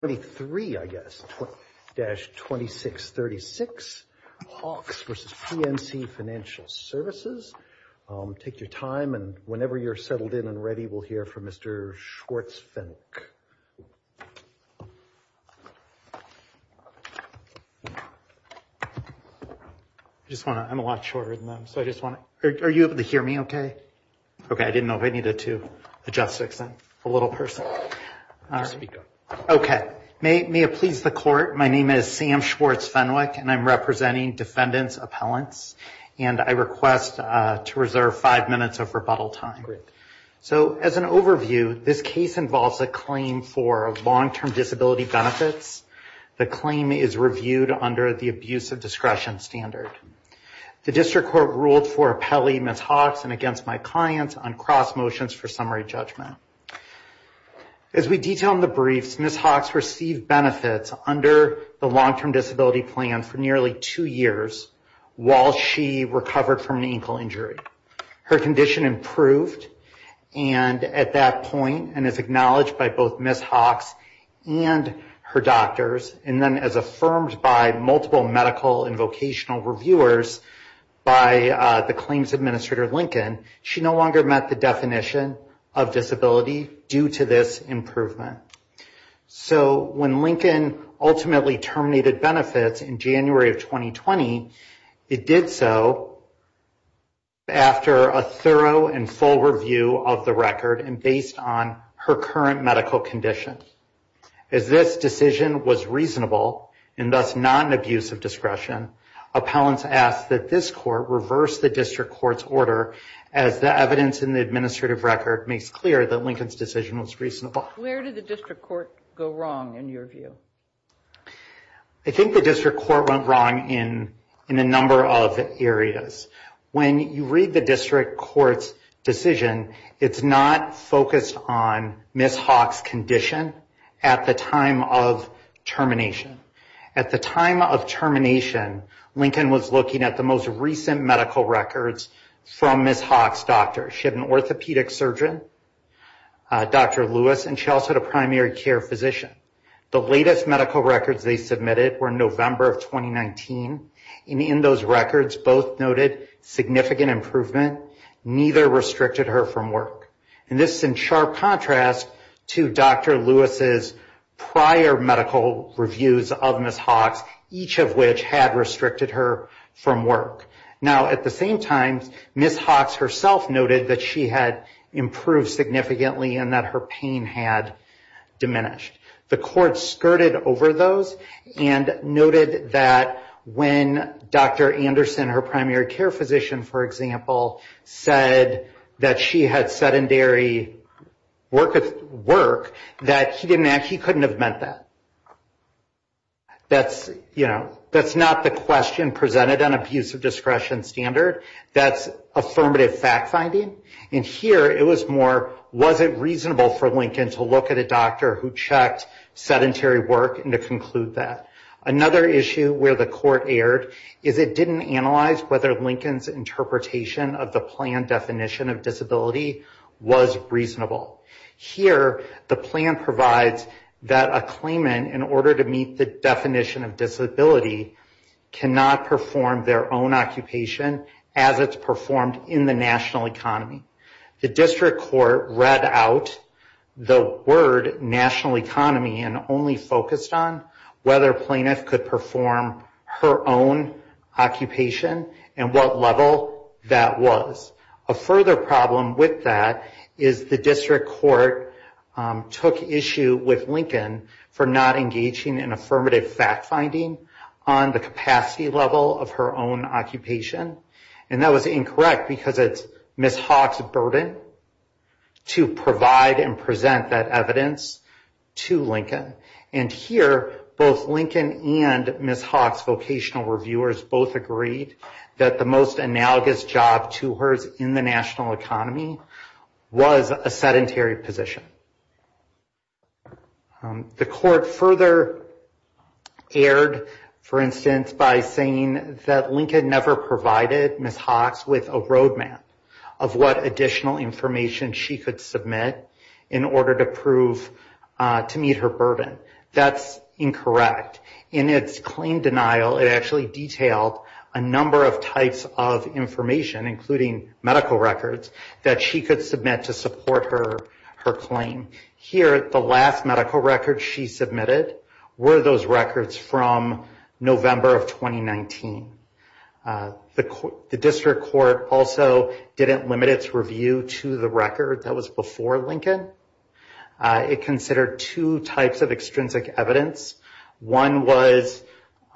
23, I guess, dash 2636 Hawks versus PNC Financial Services. Take your time and whenever you're settled in and ready, we'll hear from Mr. Schwartz Fennick. I just want to, I'm a lot shorter than them, so I just want to, are you able to hear me okay? Okay, I didn't know if I needed to adjust six and a little person. Okay, may it please the court, my name is Sam Schwartz Fennick, and I'm representing defendants' appellants, and I request to reserve five minutes of rebuttal time. So as an overview, this case involves a claim for long-term disability benefits. The claim is reviewed under the abuse of discretion standard. The district court ruled for appellee Ms. Hawks and against my clients on cross motions for summary judgment. As we detail in the briefs, Ms. Hawks received benefits under the long-term disability plan for nearly two years while she recovered from an ankle injury. Her condition improved, and at that point, and it's acknowledged by both Ms. Hawks and her doctors, and then as affirmed by multiple medical and vocational reviewers by the claims administrator Lincoln, she no longer met the definition of disability due to this improvement. So when Lincoln ultimately terminated benefits in January of 2020, it did so after a thorough and full review of the record and based on her current medical condition. As this decision was reasonable, and thus not an abuse of discretion, appellants ask that this court reverse the district court's order as the evidence in the administrative record makes clear that Lincoln's decision was reasonable. Where did the district court go wrong in your view? I think the district court went wrong in a number of areas. When you read the district court's decision, it's not focused on Ms. Hawks' condition at the time of termination. At the time of termination, Lincoln was looking at the most recent medical records from Ms. Hawks' doctor. She had an orthopedic surgeon, Dr. Lewis, and she also had a primary care physician. The latest medical records they submitted were November of 2019, and in those records both noted significant improvement, neither restricted her from work. And this is in sharp contrast to Dr. Lewis' prior medical reviews of Ms. Hawks, each of which had restricted her from work. Now, at the same time, Ms. Hawks herself noted that she had improved significantly and that her pain had diminished. The court skirted over those and noted that when Dr. Anderson, her primary care physician, for example, said that she had sedentary work, that he couldn't have meant that. That's not the question presented on abuse of discretion standard. That's affirmative fact finding. And here it was more, was it reasonable for Lincoln to look at a doctor who checked sedentary work and to conclude that? Another issue where the court erred is it didn't analyze whether Lincoln's interpretation of the plan definition of disability was reasonable. Here, the plan provides that a claimant, in order to meet the definition of disability, cannot perform their own occupation as it's performed in the national economy. The district court read out the word national economy and only focused on whether plaintiff could perform her own occupation and what level that was. A further problem with that is the district court took issue with Lincoln for not engaging in affirmative fact finding on the capacity level of her own occupation. And that was incorrect because it's Ms. Hawks' burden to provide and present that evidence to Lincoln. And here, both Lincoln and Ms. Hawks' vocational reviewers both agreed that the most analogous job to hers in the national economy was a sedentary position. The court further erred, for instance, by saying that Lincoln never provided Ms. Hawks with a road map of what additional information she could submit in order to prove to meet her burden. That's incorrect. In its claim denial, it actually detailed a number of types of information, including medical records, that she could submit to support her claim. Here, the last medical record she submitted were those records from November of 2019. The district court also didn't limit its review to the record that was before Lincoln. It considered two types of extrinsic evidence. One was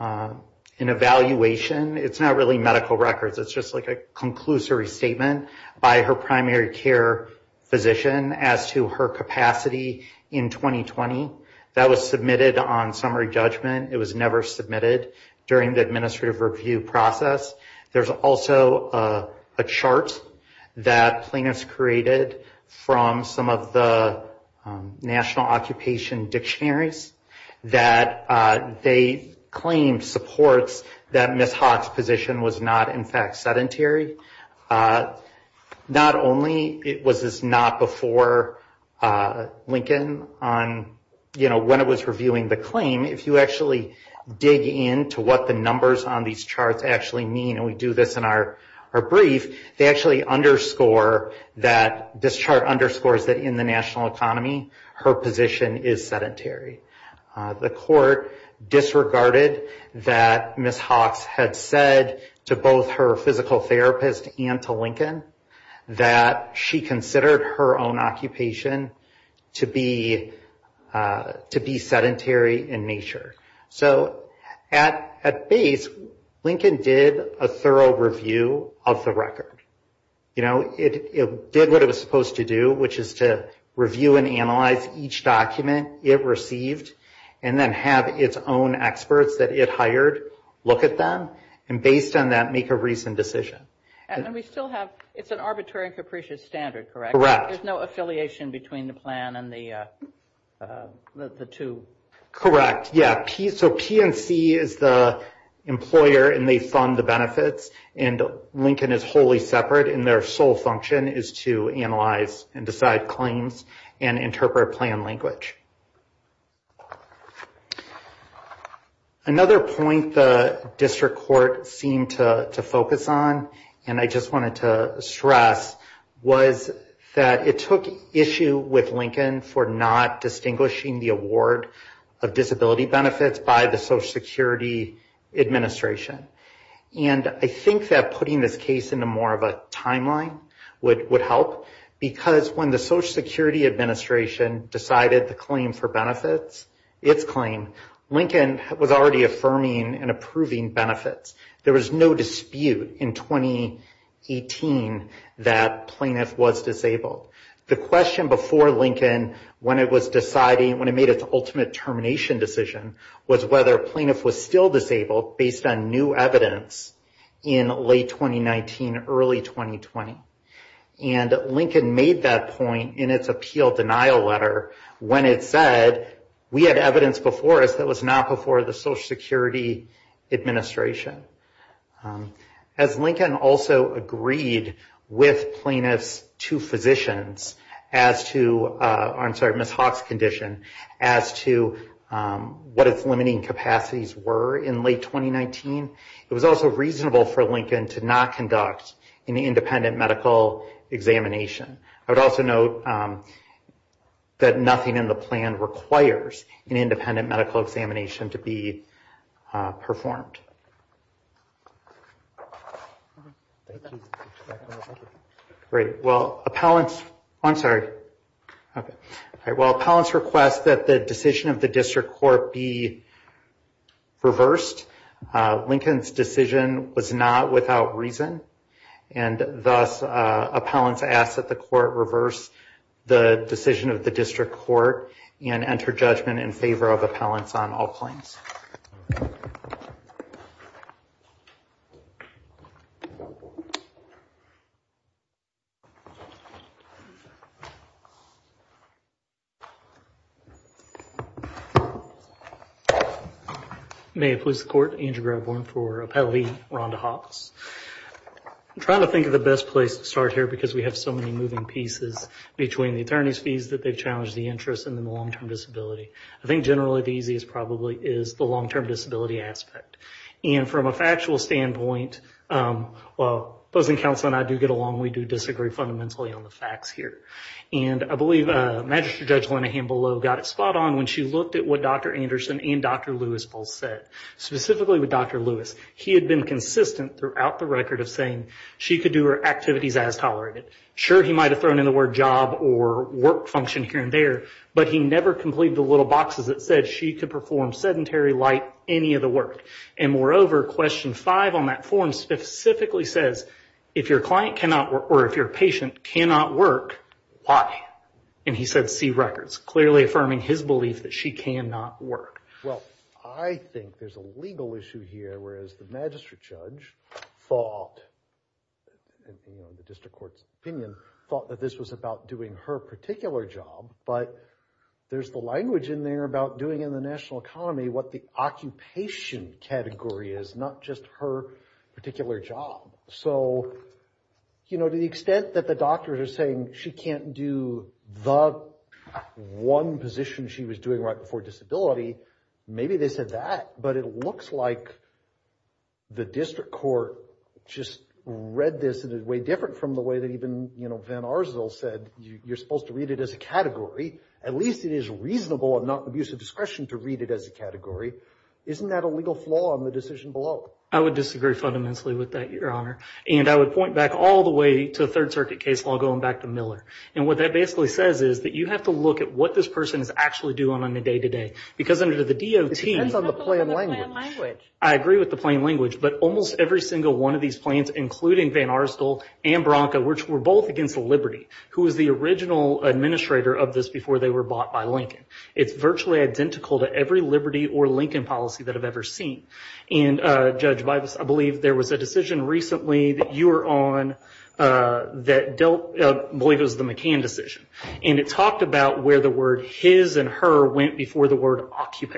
an evaluation. It's not really medical records. It's just like a conclusory statement by her primary care physician as to her capacity in 2020. That was submitted on summary judgment. It was never submitted during the administrative review process. There's also a chart that plaintiffs created from some of the national occupation dictionaries that they claimed supports that Ms. Hawks' position was not, in fact, sedentary. Not only was this not before Lincoln when it was reviewing the claim, if you actually dig into what the numbers on these charts actually mean, and we do this in our brief, this chart underscores that in the national economy, her position is sedentary. The court disregarded that Ms. Hawks had said to both her physical therapist and to Lincoln that she considered her own occupation to be sedentary in nature. So at base, Lincoln did a thorough review of the record. It did what it was supposed to do, which is to review and analyze each document it received, and then have its own experts that it hired look at them, and based on that, make a reasoned decision. And we still have, it's an arbitrary and capricious standard, correct? Correct. There's no affiliation between the plan and the two? Correct, yeah. So P&C is the employer, and they fund the benefits, and Lincoln is wholly separate, and their sole function is to analyze and decide claims and interpret plan language. Another point the district court seemed to focus on, and I just wanted to stress, was that it took issue with Lincoln for not distinguishing the award of disability benefits by the Social Security Administration. And I think that putting this case into more of a timeline would help, because when the Social Security Administration decided the claim for benefits, its claim, Lincoln was already affirming and approving benefits. There was no dispute in 2018 that plaintiff was disabled. The question before Lincoln, when it was deciding, when it made its ultimate termination decision, was whether plaintiff was still disabled based on new evidence in late 2019, early 2020. And Lincoln made that point in its appeal denial letter when it said, we had evidence before us that was not before the Social Security Administration. As Lincoln also agreed with plaintiff's two physicians as to, I'm sorry, Ms. Hawk's condition, as to what its limiting capacities were in late 2019, it was also reasonable for Lincoln to not conduct an independent medical examination. I would also note that nothing in the plan requires an independent medical examination to be performed. Thank you. Great. Well, appellants, I'm sorry. And thus, appellants ask that the court reverse the decision of the district court and enter judgment in favor of appellants on all claims. May it please the court, Andrew Gravehorn for Appellee Rhonda Hawks. I'm trying to think of the best place to start here because we have so many moving pieces between the attorney's fees that they've challenged the interest and the long-term disability. I think generally the easiest probably is the long-term disability aspect. And from a factual standpoint, well, opposing counsel and I do get along. We do disagree fundamentally on the facts here. And I believe Magistrate Judge Lena Hambelow got it spot on when she looked at what Dr. Anderson and Dr. Lewis both said. Specifically with Dr. Lewis, he had been consistent throughout the record of saying she could do her activities as tolerated. Sure, he might have thrown in the word job or work function here and there. But he never completed the little boxes that said she could perform sedentary, light, any of the work. And moreover, question five on that form specifically says, if your client cannot or if your patient cannot work, why? And he said, see records, clearly affirming his belief that she cannot work. Well, I think there's a legal issue here, whereas the Magistrate Judge thought, in the district court's opinion, thought that this was about doing her particular job. But there's the language in there about doing in the national economy what the occupation category is, not just her particular job. So, you know, to the extent that the doctors are saying she can't do the one position she was doing right before disability, maybe they said that. But it looks like the district court just read this in a way different from the way that even Van Arzel said you're supposed to read it as a category. At least it is reasonable and not abuse of discretion to read it as a category. Isn't that a legal flaw in the decision below? I would disagree fundamentally with that, Your Honor. And I would point back all the way to the Third Circuit case law, going back to Miller. And what that basically says is that you have to look at what this person is actually doing on a day-to-day. Because under the DOT. It depends on the plain language. I agree with the plain language. But almost every single one of these plans, including Van Arzel and Branca, which were both against Liberty, who was the original administrator of this before they were bought by Lincoln. It's virtually identical to every Liberty or Lincoln policy that I've ever seen. And, Judge Bybus, I believe there was a decision recently that you were on that dealt, I believe it was the McCann decision. And it talked about where the word his and her went before the word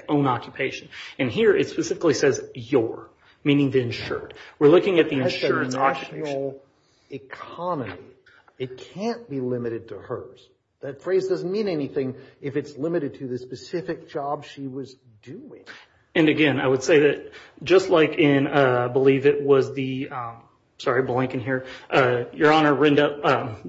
own occupation. And here it specifically says your, meaning the insured. We're looking at the insured's occupation. That's the national economy. It can't be limited to hers. That phrase doesn't mean anything if it's limited to the specific job she was doing. And, again, I would say that just like in, I believe it was the, sorry, Blanken here. Your Honor,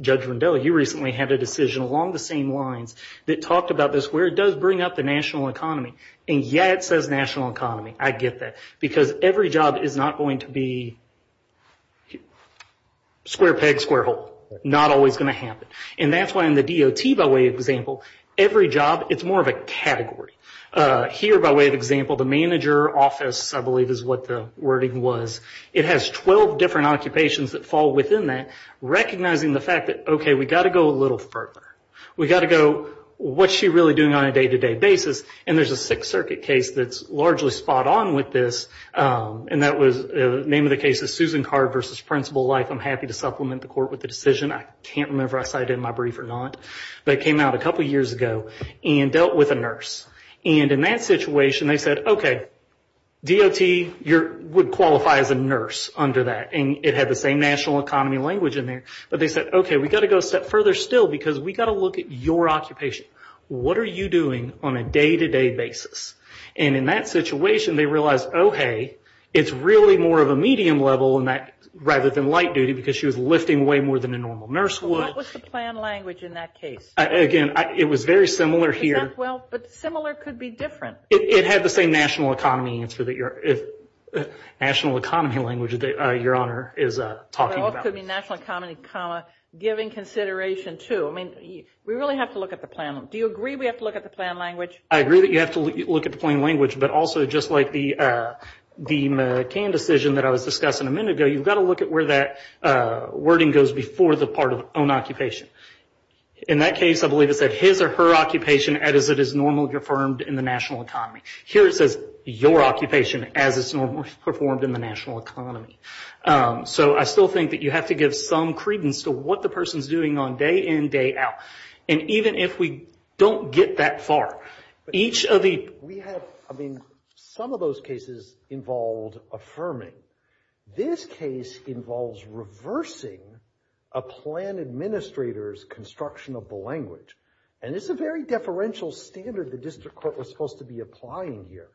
Judge Rondeau, you recently had a decision along the same lines that talked about this where it does bring up the national economy. And, yeah, it says national economy. I get that. Because every job is not going to be square peg, square hole. Not always going to happen. And that's why in the DOT, by way of example, every job, it's more of a category. Here, by way of example, the manager office, I believe is what the wording was, it has 12 different occupations that fall within that, recognizing the fact that, okay, we've got to go a little further. We've got to go, what's she really doing on a day-to-day basis? And there's a Sixth Circuit case that's largely spot on with this. And that was, the name of the case is Susan Card v. Principal Life. I'm happy to supplement the court with the decision. I can't remember if I cited it in my brief or not. But it came out a couple years ago and dealt with a nurse. And in that situation, they said, okay, DOT would qualify as a nurse under that. And it had the same national economy language in there. But they said, okay, we've got to go a step further still because we've got to look at your occupation. What are you doing on a day-to-day basis? And in that situation, they realized, okay, it's really more of a medium level rather than light duty because she was lifting way more than a normal nurse would. What was the plan language in that case? Again, it was very similar here. Well, but similar could be different. It had the same national economy language that Your Honor is talking about. It could be national economy, comma, giving consideration to. I mean, we really have to look at the plan. Do you agree we have to look at the plan language? I agree that you have to look at the plan language. But also, just like the McCann decision that I was discussing a minute ago, you've got to look at where that wording goes before the part of own occupation. In that case, I believe it said his or her occupation as it is normally performed in the national economy. Here it says your occupation as it's normally performed in the national economy. So I still think that you have to give some credence to what the person's doing on day in, day out. And even if we don't get that far, each of the – We have – I mean, some of those cases involved affirming. This case involves reversing a plan administrator's construction of the language. And it's a very deferential standard the district court was supposed to be applying here,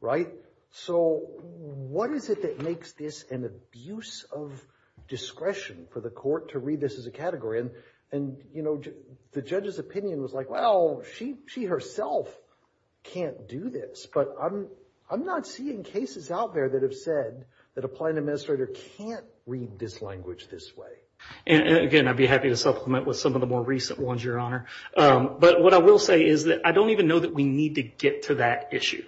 right? So what is it that makes this an abuse of discretion for the court to read this as a category? And, you know, the judge's opinion was like, well, she herself can't do this. But I'm not seeing cases out there that have said that a plan administrator can't read this language this way. And, again, I'd be happy to supplement with some of the more recent ones, Your Honor. But what I will say is that I don't even know that we need to get to that issue.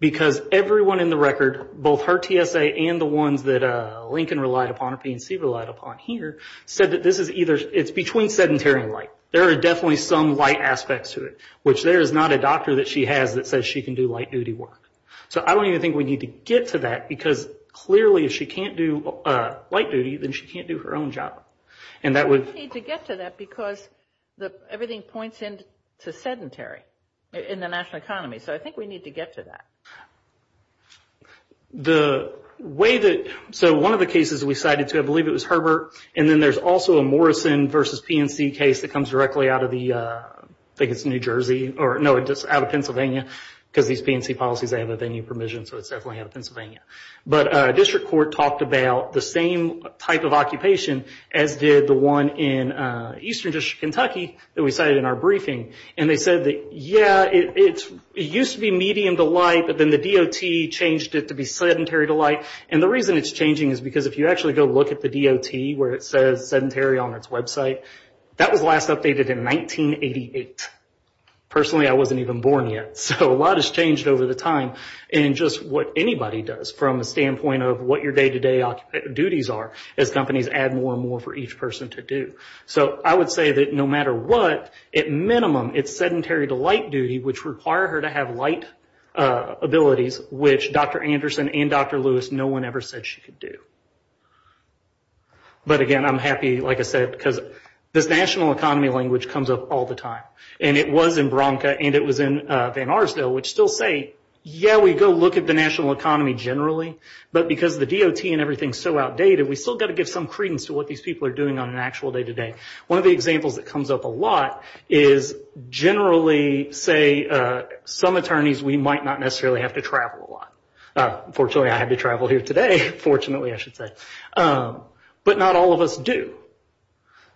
Because everyone in the record, both her TSA and the ones that Lincoln relied upon or PNC relied upon here, said that this is either – it's between sedentary and light. There are definitely some light aspects to it, which there is not a doctor that she has that says she can do light-duty work. So I don't even think we need to get to that. Because, clearly, if she can't do light-duty, then she can't do her own job. And that would – We don't need to get to that because everything points in to sedentary in the national economy. So I think we need to get to that. The way that – so one of the cases we cited, too, I believe it was Herbert, and then there's also a Morrison v. PNC case that comes directly out of the – I think it's New Jersey. No, it's out of Pennsylvania. Because these PNC policies, they have a venue permission, so it's definitely out of Pennsylvania. But a district court talked about the same type of occupation as did the one in Eastern District, Kentucky, that we cited in our briefing. And they said that, yeah, it used to be medium to light, but then the DOT changed it to be sedentary to light. And the reason it's changing is because if you actually go look at the DOT where it says sedentary on its website, that was last updated in 1988. Personally, I wasn't even born yet. So a lot has changed over the time in just what anybody does from a standpoint of what your day-to-day duties are as companies add more and more for each person to do. So I would say that no matter what, at minimum, it's sedentary to light-duty, which require her to have light abilities, which Dr. Anderson and Dr. Lewis, no one ever said she could do. But, again, I'm happy, like I said, because this national economy language comes up all the time. And it was in Bronca, and it was in Van Arsdale, which still say, yeah, we go look at the national economy generally, but because the DOT and everything is so outdated, we still got to give some credence to what these people are doing on an actual day-to-day. One of the examples that comes up a lot is generally, say, some attorneys, we might not necessarily have to travel a lot. Fortunately, I had to travel here today, fortunately, I should say. But not all of us do.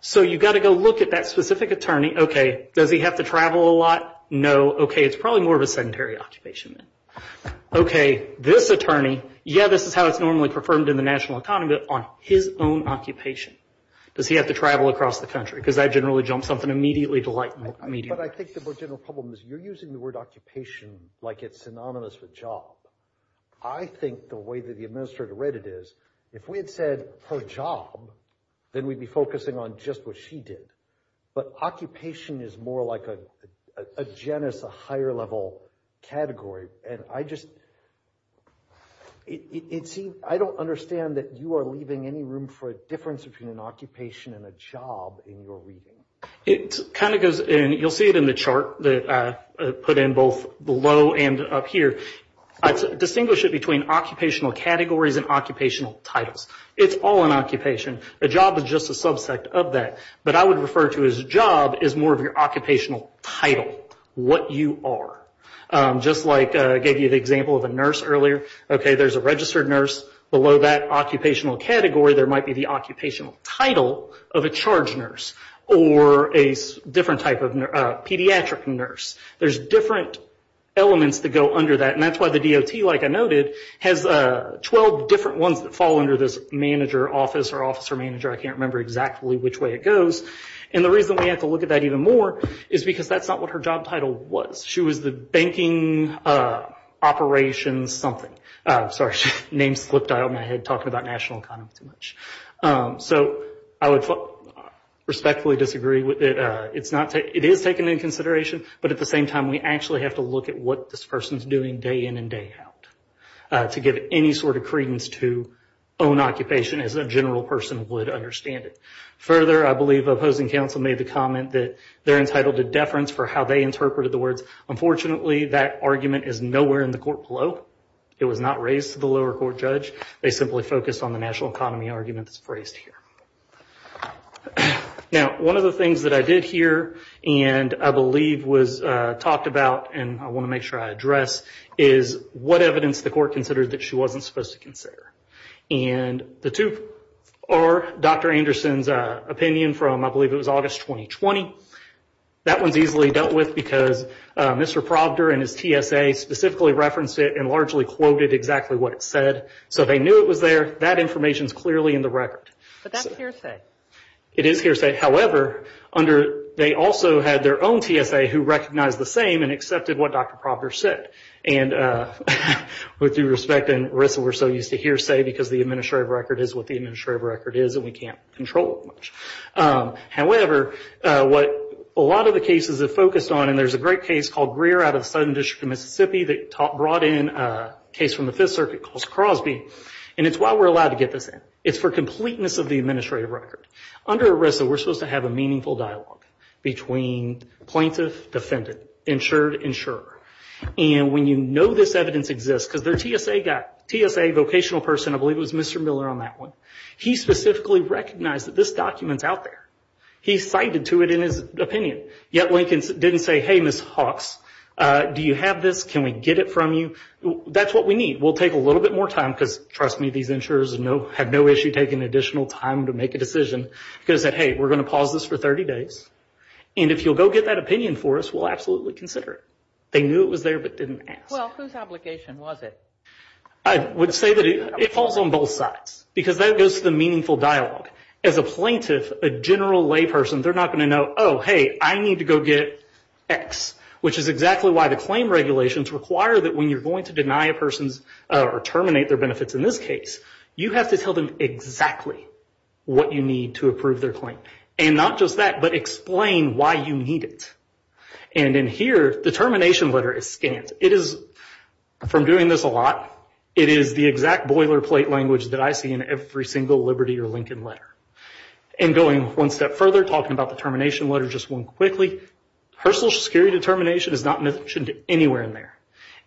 So you got to go look at that specific attorney. Okay, does he have to travel a lot? No. Okay, it's probably more of a sedentary occupation. Okay, this attorney, yeah, this is how it's normally performed in the national economy, but on his own occupation. Does he have to travel across the country? Because I generally jump something immediately to lighten the medium. But I think the more general problem is you're using the word occupation like it's synonymous with job. I think the way that the administrator read it is, if we had said her job, then we'd be focusing on just what she did. But occupation is more like a genus, a higher-level category. I don't understand that you are leaving any room for a difference between an occupation and a job in your reading. It kind of goes in, you'll see it in the chart that I put in both below and up here. I distinguish it between occupational categories and occupational titles. It's all an occupation. A job is just a subsect of that. But I would refer to his job as more of your occupational title, what you are. Just like I gave you the example of a nurse earlier. Okay, there's a registered nurse. Below that occupational category, there might be the occupational title of a charge nurse or a different type of pediatric nurse. There's different elements that go under that, and that's why the DOT, like I noted, has 12 different ones that fall under this manager office or officer manager. I can't remember exactly which way it goes. And the reason we have to look at that even more is because that's not what her job title was. She was the banking operations something. Sorry, name slipped out of my head talking about national economy too much. So I would respectfully disagree with it. It is taken into consideration, but at the same time we actually have to look at what this person is doing day in and day out to give any sort of credence to own occupation as a general person would understand it. Further, I believe opposing counsel made the comment that they're entitled to deference for how they interpreted the words. Unfortunately, that argument is nowhere in the court below. It was not raised to the lower court judge. They simply focused on the national economy argument that's phrased here. Now, one of the things that I did hear and I believe was talked about, and I want to make sure I address, is what evidence the court considered that she wasn't supposed to consider. And the two are Dr. Anderson's opinion from I believe it was August 2020. That one's easily dealt with because Mr. Proctor and his TSA specifically referenced it and largely quoted exactly what it said. So they knew it was there. That information's clearly in the record. But that's hearsay. It is hearsay. However, they also had their own TSA who recognized the same and accepted what Dr. Proctor said. And with due respect, Arissa, we're so used to hearsay because the administrative record is what the administrative record is and we can't control it much. However, what a lot of the cases have focused on, and there's a great case called Greer out of the Southern District of Mississippi that brought in a case from the Fifth Circuit called Crosby, and it's why we're allowed to get this in. It's for completeness of the administrative record. Under Arissa, we're supposed to have a meaningful dialogue between plaintiff, defendant, insured, insurer. And when you know this evidence exists because their TSA guy, TSA vocational person, I believe it was Mr. Miller on that one, he specifically recognized that this document's out there. He cited to it in his opinion. Yet Lincoln didn't say, hey, Ms. Hawkes, do you have this? Can we get it from you? That's what we need. We'll take a little bit more time because, trust me, these insurers have no issue taking additional time to make a decision. He could have said, hey, we're going to pause this for 30 days, and if you'll go get that opinion for us, we'll absolutely consider it. They knew it was there but didn't ask. Well, whose obligation was it? I would say that it falls on both sides because that goes to the meaningful dialogue. As a plaintiff, a general layperson, they're not going to know, oh, hey, I need to go get X, which is exactly why the claim regulations require that when you're going to deny a person's or terminate their benefits in this case, you have to tell them exactly what you need to approve their claim. And not just that, but explain why you need it. And in here, the termination letter is scanned. It is, from doing this a lot, it is the exact boilerplate language that I see in every single Liberty or Lincoln letter. And going one step further, talking about the termination letter just one quickly, her Social Security determination is not mentioned anywhere in there.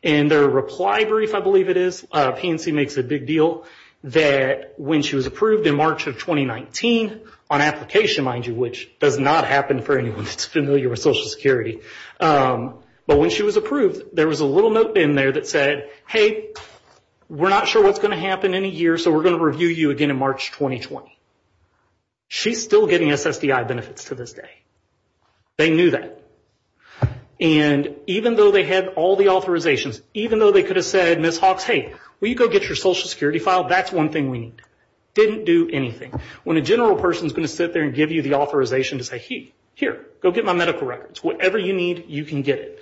In their reply brief, I believe it is, PNC makes a big deal that when she was approved in March of 2019 on application, mind you, which does not happen for anyone that's familiar with Social Security, but when she was approved, there was a little note in there that said, hey, we're not sure what's going to happen in a year, so we're going to review you again in March 2020. She's still getting SSDI benefits to this day. They knew that. And even though they had all the authorizations, even though they could have said, Ms. Hawks, hey, will you go get your Social Security file? That's one thing we need. Didn't do anything. When a general person is going to sit there and give you the authorization to say, hey, here, go get my medical records. Whatever you need, you can get it.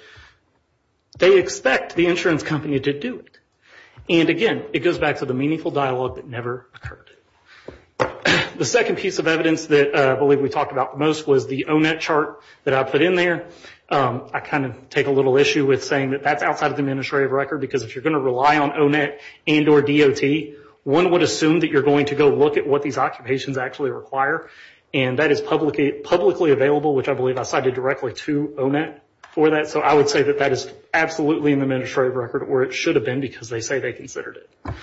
They expect the insurance company to do it. And again, it goes back to the meaningful dialogue that never occurred. The second piece of evidence that I believe we talked about the most was the O-Net chart that I put in there. I kind of take a little issue with saying that that's outside of the administrative record because if you're going to rely on O-Net and or DOT, one would assume that you're going to go look at what these occupations actually require, and that is publicly available, which I believe I cited directly to O-Net for that. So I would say that that is absolutely in the administrative record where it should have been because they say they considered it.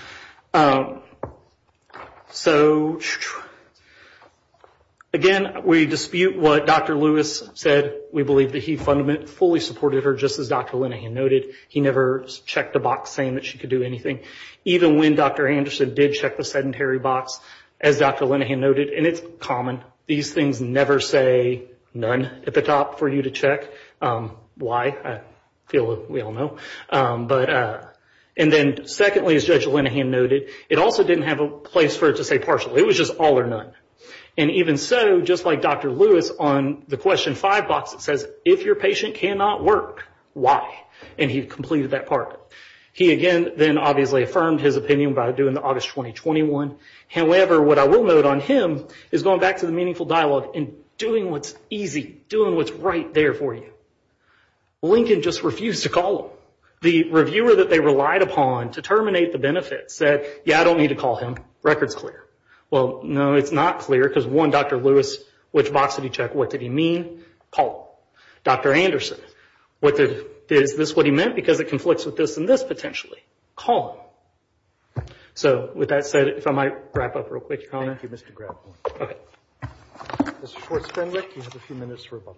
So again, we dispute what Dr. Lewis said. We believe that he fully supported her, just as Dr. Linehan noted. He never checked the box saying that she could do anything. Even when Dr. Anderson did check the sedentary box, as Dr. Linehan noted, and it's common, these things never say none at the top for you to check. Why? I feel we all know. And then secondly, as Judge Linehan noted, it also didn't have a place for it to say partial. It was just all or none. And even so, just like Dr. Lewis on the question five box, it says, if your patient cannot work, why? And he completed that part. He, again, then obviously affirmed his opinion by doing the August 2021. However, what I will note on him is going back to the meaningful dialogue and doing what's easy, doing what's right there for you. Lincoln just refused to call him. The reviewer that they relied upon to terminate the benefits said, yeah, I don't need to call him, record's clear. Well, no, it's not clear because one, Dr. Lewis, which box did he check? What did he mean? Call. Dr. Anderson, is this what he meant? Because it conflicts with this and this potentially. Call him. So with that said, if I might wrap up real quick. Thank you, Mr. Graff. Okay. Mr. Schwartz-Fenwick, you have a few minutes for a bubble.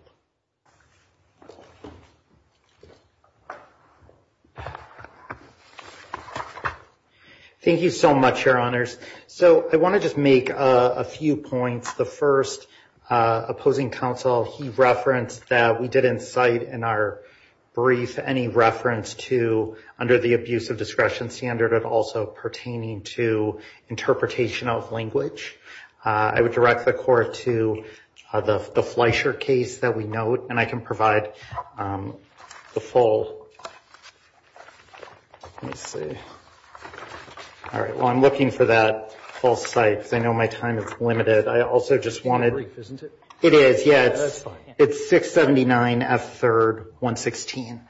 Thank you so much, Your Honors. So I want to just make a few points. The first, opposing counsel, he referenced that we didn't cite in our brief any reference to, under the abuse of discretion standard, but also pertaining to interpretation of language. I would direct the court to the Fleischer case that we note, and I can provide the full. Let me see. All right. Well, I'm looking for that full cite because I know my time is limited. I also just wanted. It is, yeah. It's 679 F3rd 116.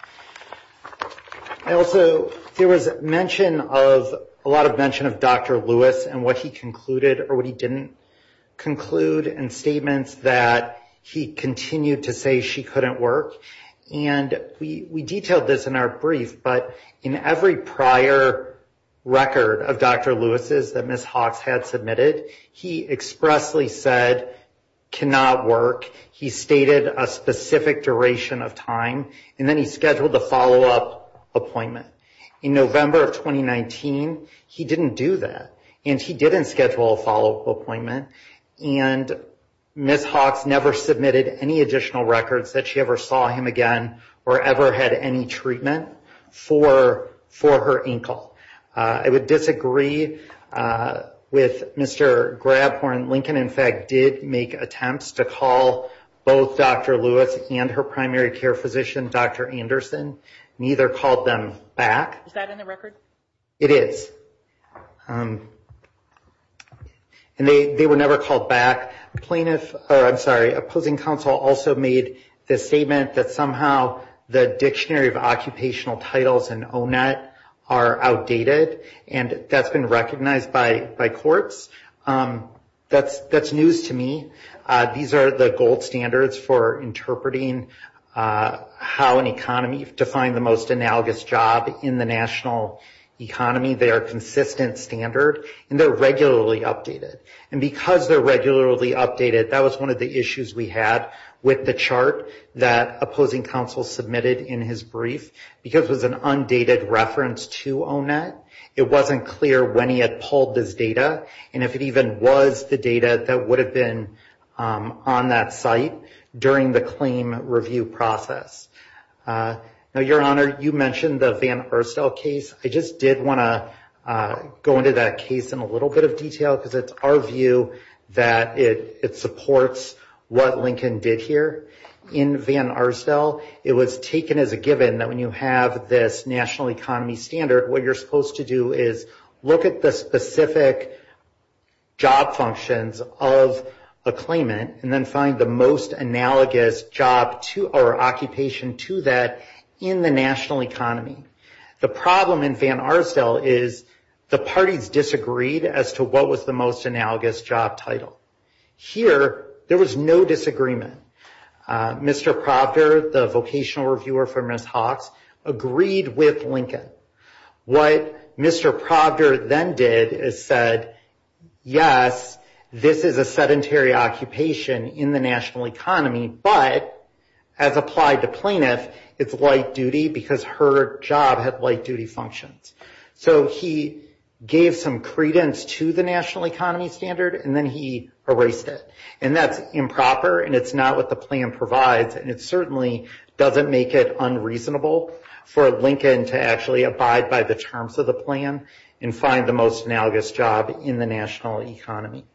I also, there was mention of, a lot of mention of Dr. Lewis and what he concluded or what he didn't conclude in statements that he continued to say she couldn't work. And we detailed this in our brief, but in every prior record of Dr. Lewis's that Ms. Hawkes had submitted, he expressly said cannot work. He stated a specific duration of time, and then he scheduled a follow-up appointment. In November of 2019, he didn't do that, and he didn't schedule a follow-up appointment, and Ms. Hawkes never submitted any additional records that she ever saw him again or ever had any treatment for her ankle. I would disagree with Mr. Grabhorn. Lincoln, in fact, did make attempts to call both Dr. Lewis and her primary care physician, Dr. Anderson. Neither called them back. Is that in the record? It is. And they were never called back. Plaintiff, or I'm sorry, opposing counsel also made the statement that somehow the dictionary of occupational titles in ONET are outdated, and that's been recognized by courts. That's news to me. These are the gold standards for interpreting how an economy, to find the most analogous job in the national economy. They are a consistent standard, and they're regularly updated. And because they're regularly updated, that was one of the issues we had with the chart that opposing counsel submitted in his brief. Because it was an undated reference to ONET, it wasn't clear when he had pulled this data and if it even was the data that would have been on that site during the claim review process. Now, Your Honor, you mentioned the Van Erstel case. I just did want to go into that case in a little bit of detail because it's our view that it supports what Lincoln did here in Van Erstel. It was taken as a given that when you have this national economy standard, what you're supposed to do is look at the specific job functions of a claimant and then find the most analogous occupation to that in the national economy. The problem in Van Erstel is the parties disagreed as to what was the most analogous job title. Here, there was no disagreement. Mr. Proctor, the vocational reviewer for Ms. Hawkes, agreed with Lincoln. What Mr. Proctor then did is said, yes, this is a sedentary occupation in the national economy, but as applied to plaintiff, it's light duty because her job had light duty functions. He gave some credence to the national economy standard and then he erased it. That's improper and it's not what the plan provides and it certainly doesn't make it unreasonable for Lincoln to actually abide by the terms of the plan and find the most analogous job in the national economy.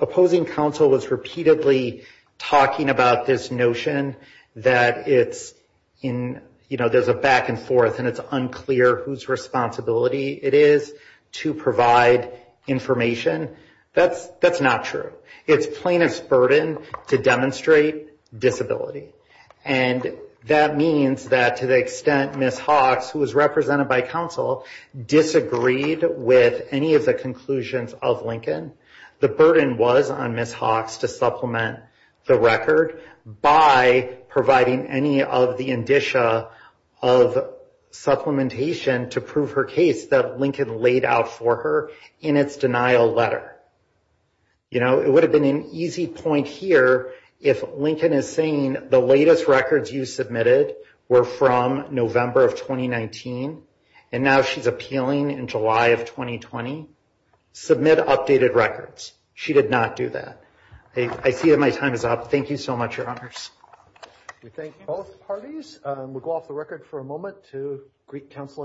Opposing counsel was repeatedly talking about this notion that there's a back and forth and it's unclear whose responsibility it is to provide information. That's not true. It's plaintiff's burden to demonstrate disability. That means that to the extent Ms. Hawkes, who was represented by counsel, disagreed with any of the conclusions of Lincoln, the burden was on Ms. Hawkes to supplement the record by providing any of the indicia of supplementation to prove her case that Lincoln laid out for her in its denial letter. You know, it would have been an easy point here if Lincoln is saying the latest records you submitted were from November of 2019 and now she's appealing in July of 2020. Submit updated records. She did not do that. I see that my time is up. Thank you so much, Your Honors. We thank both parties. We'll go off the record for a moment to Greek counsel at sidebar.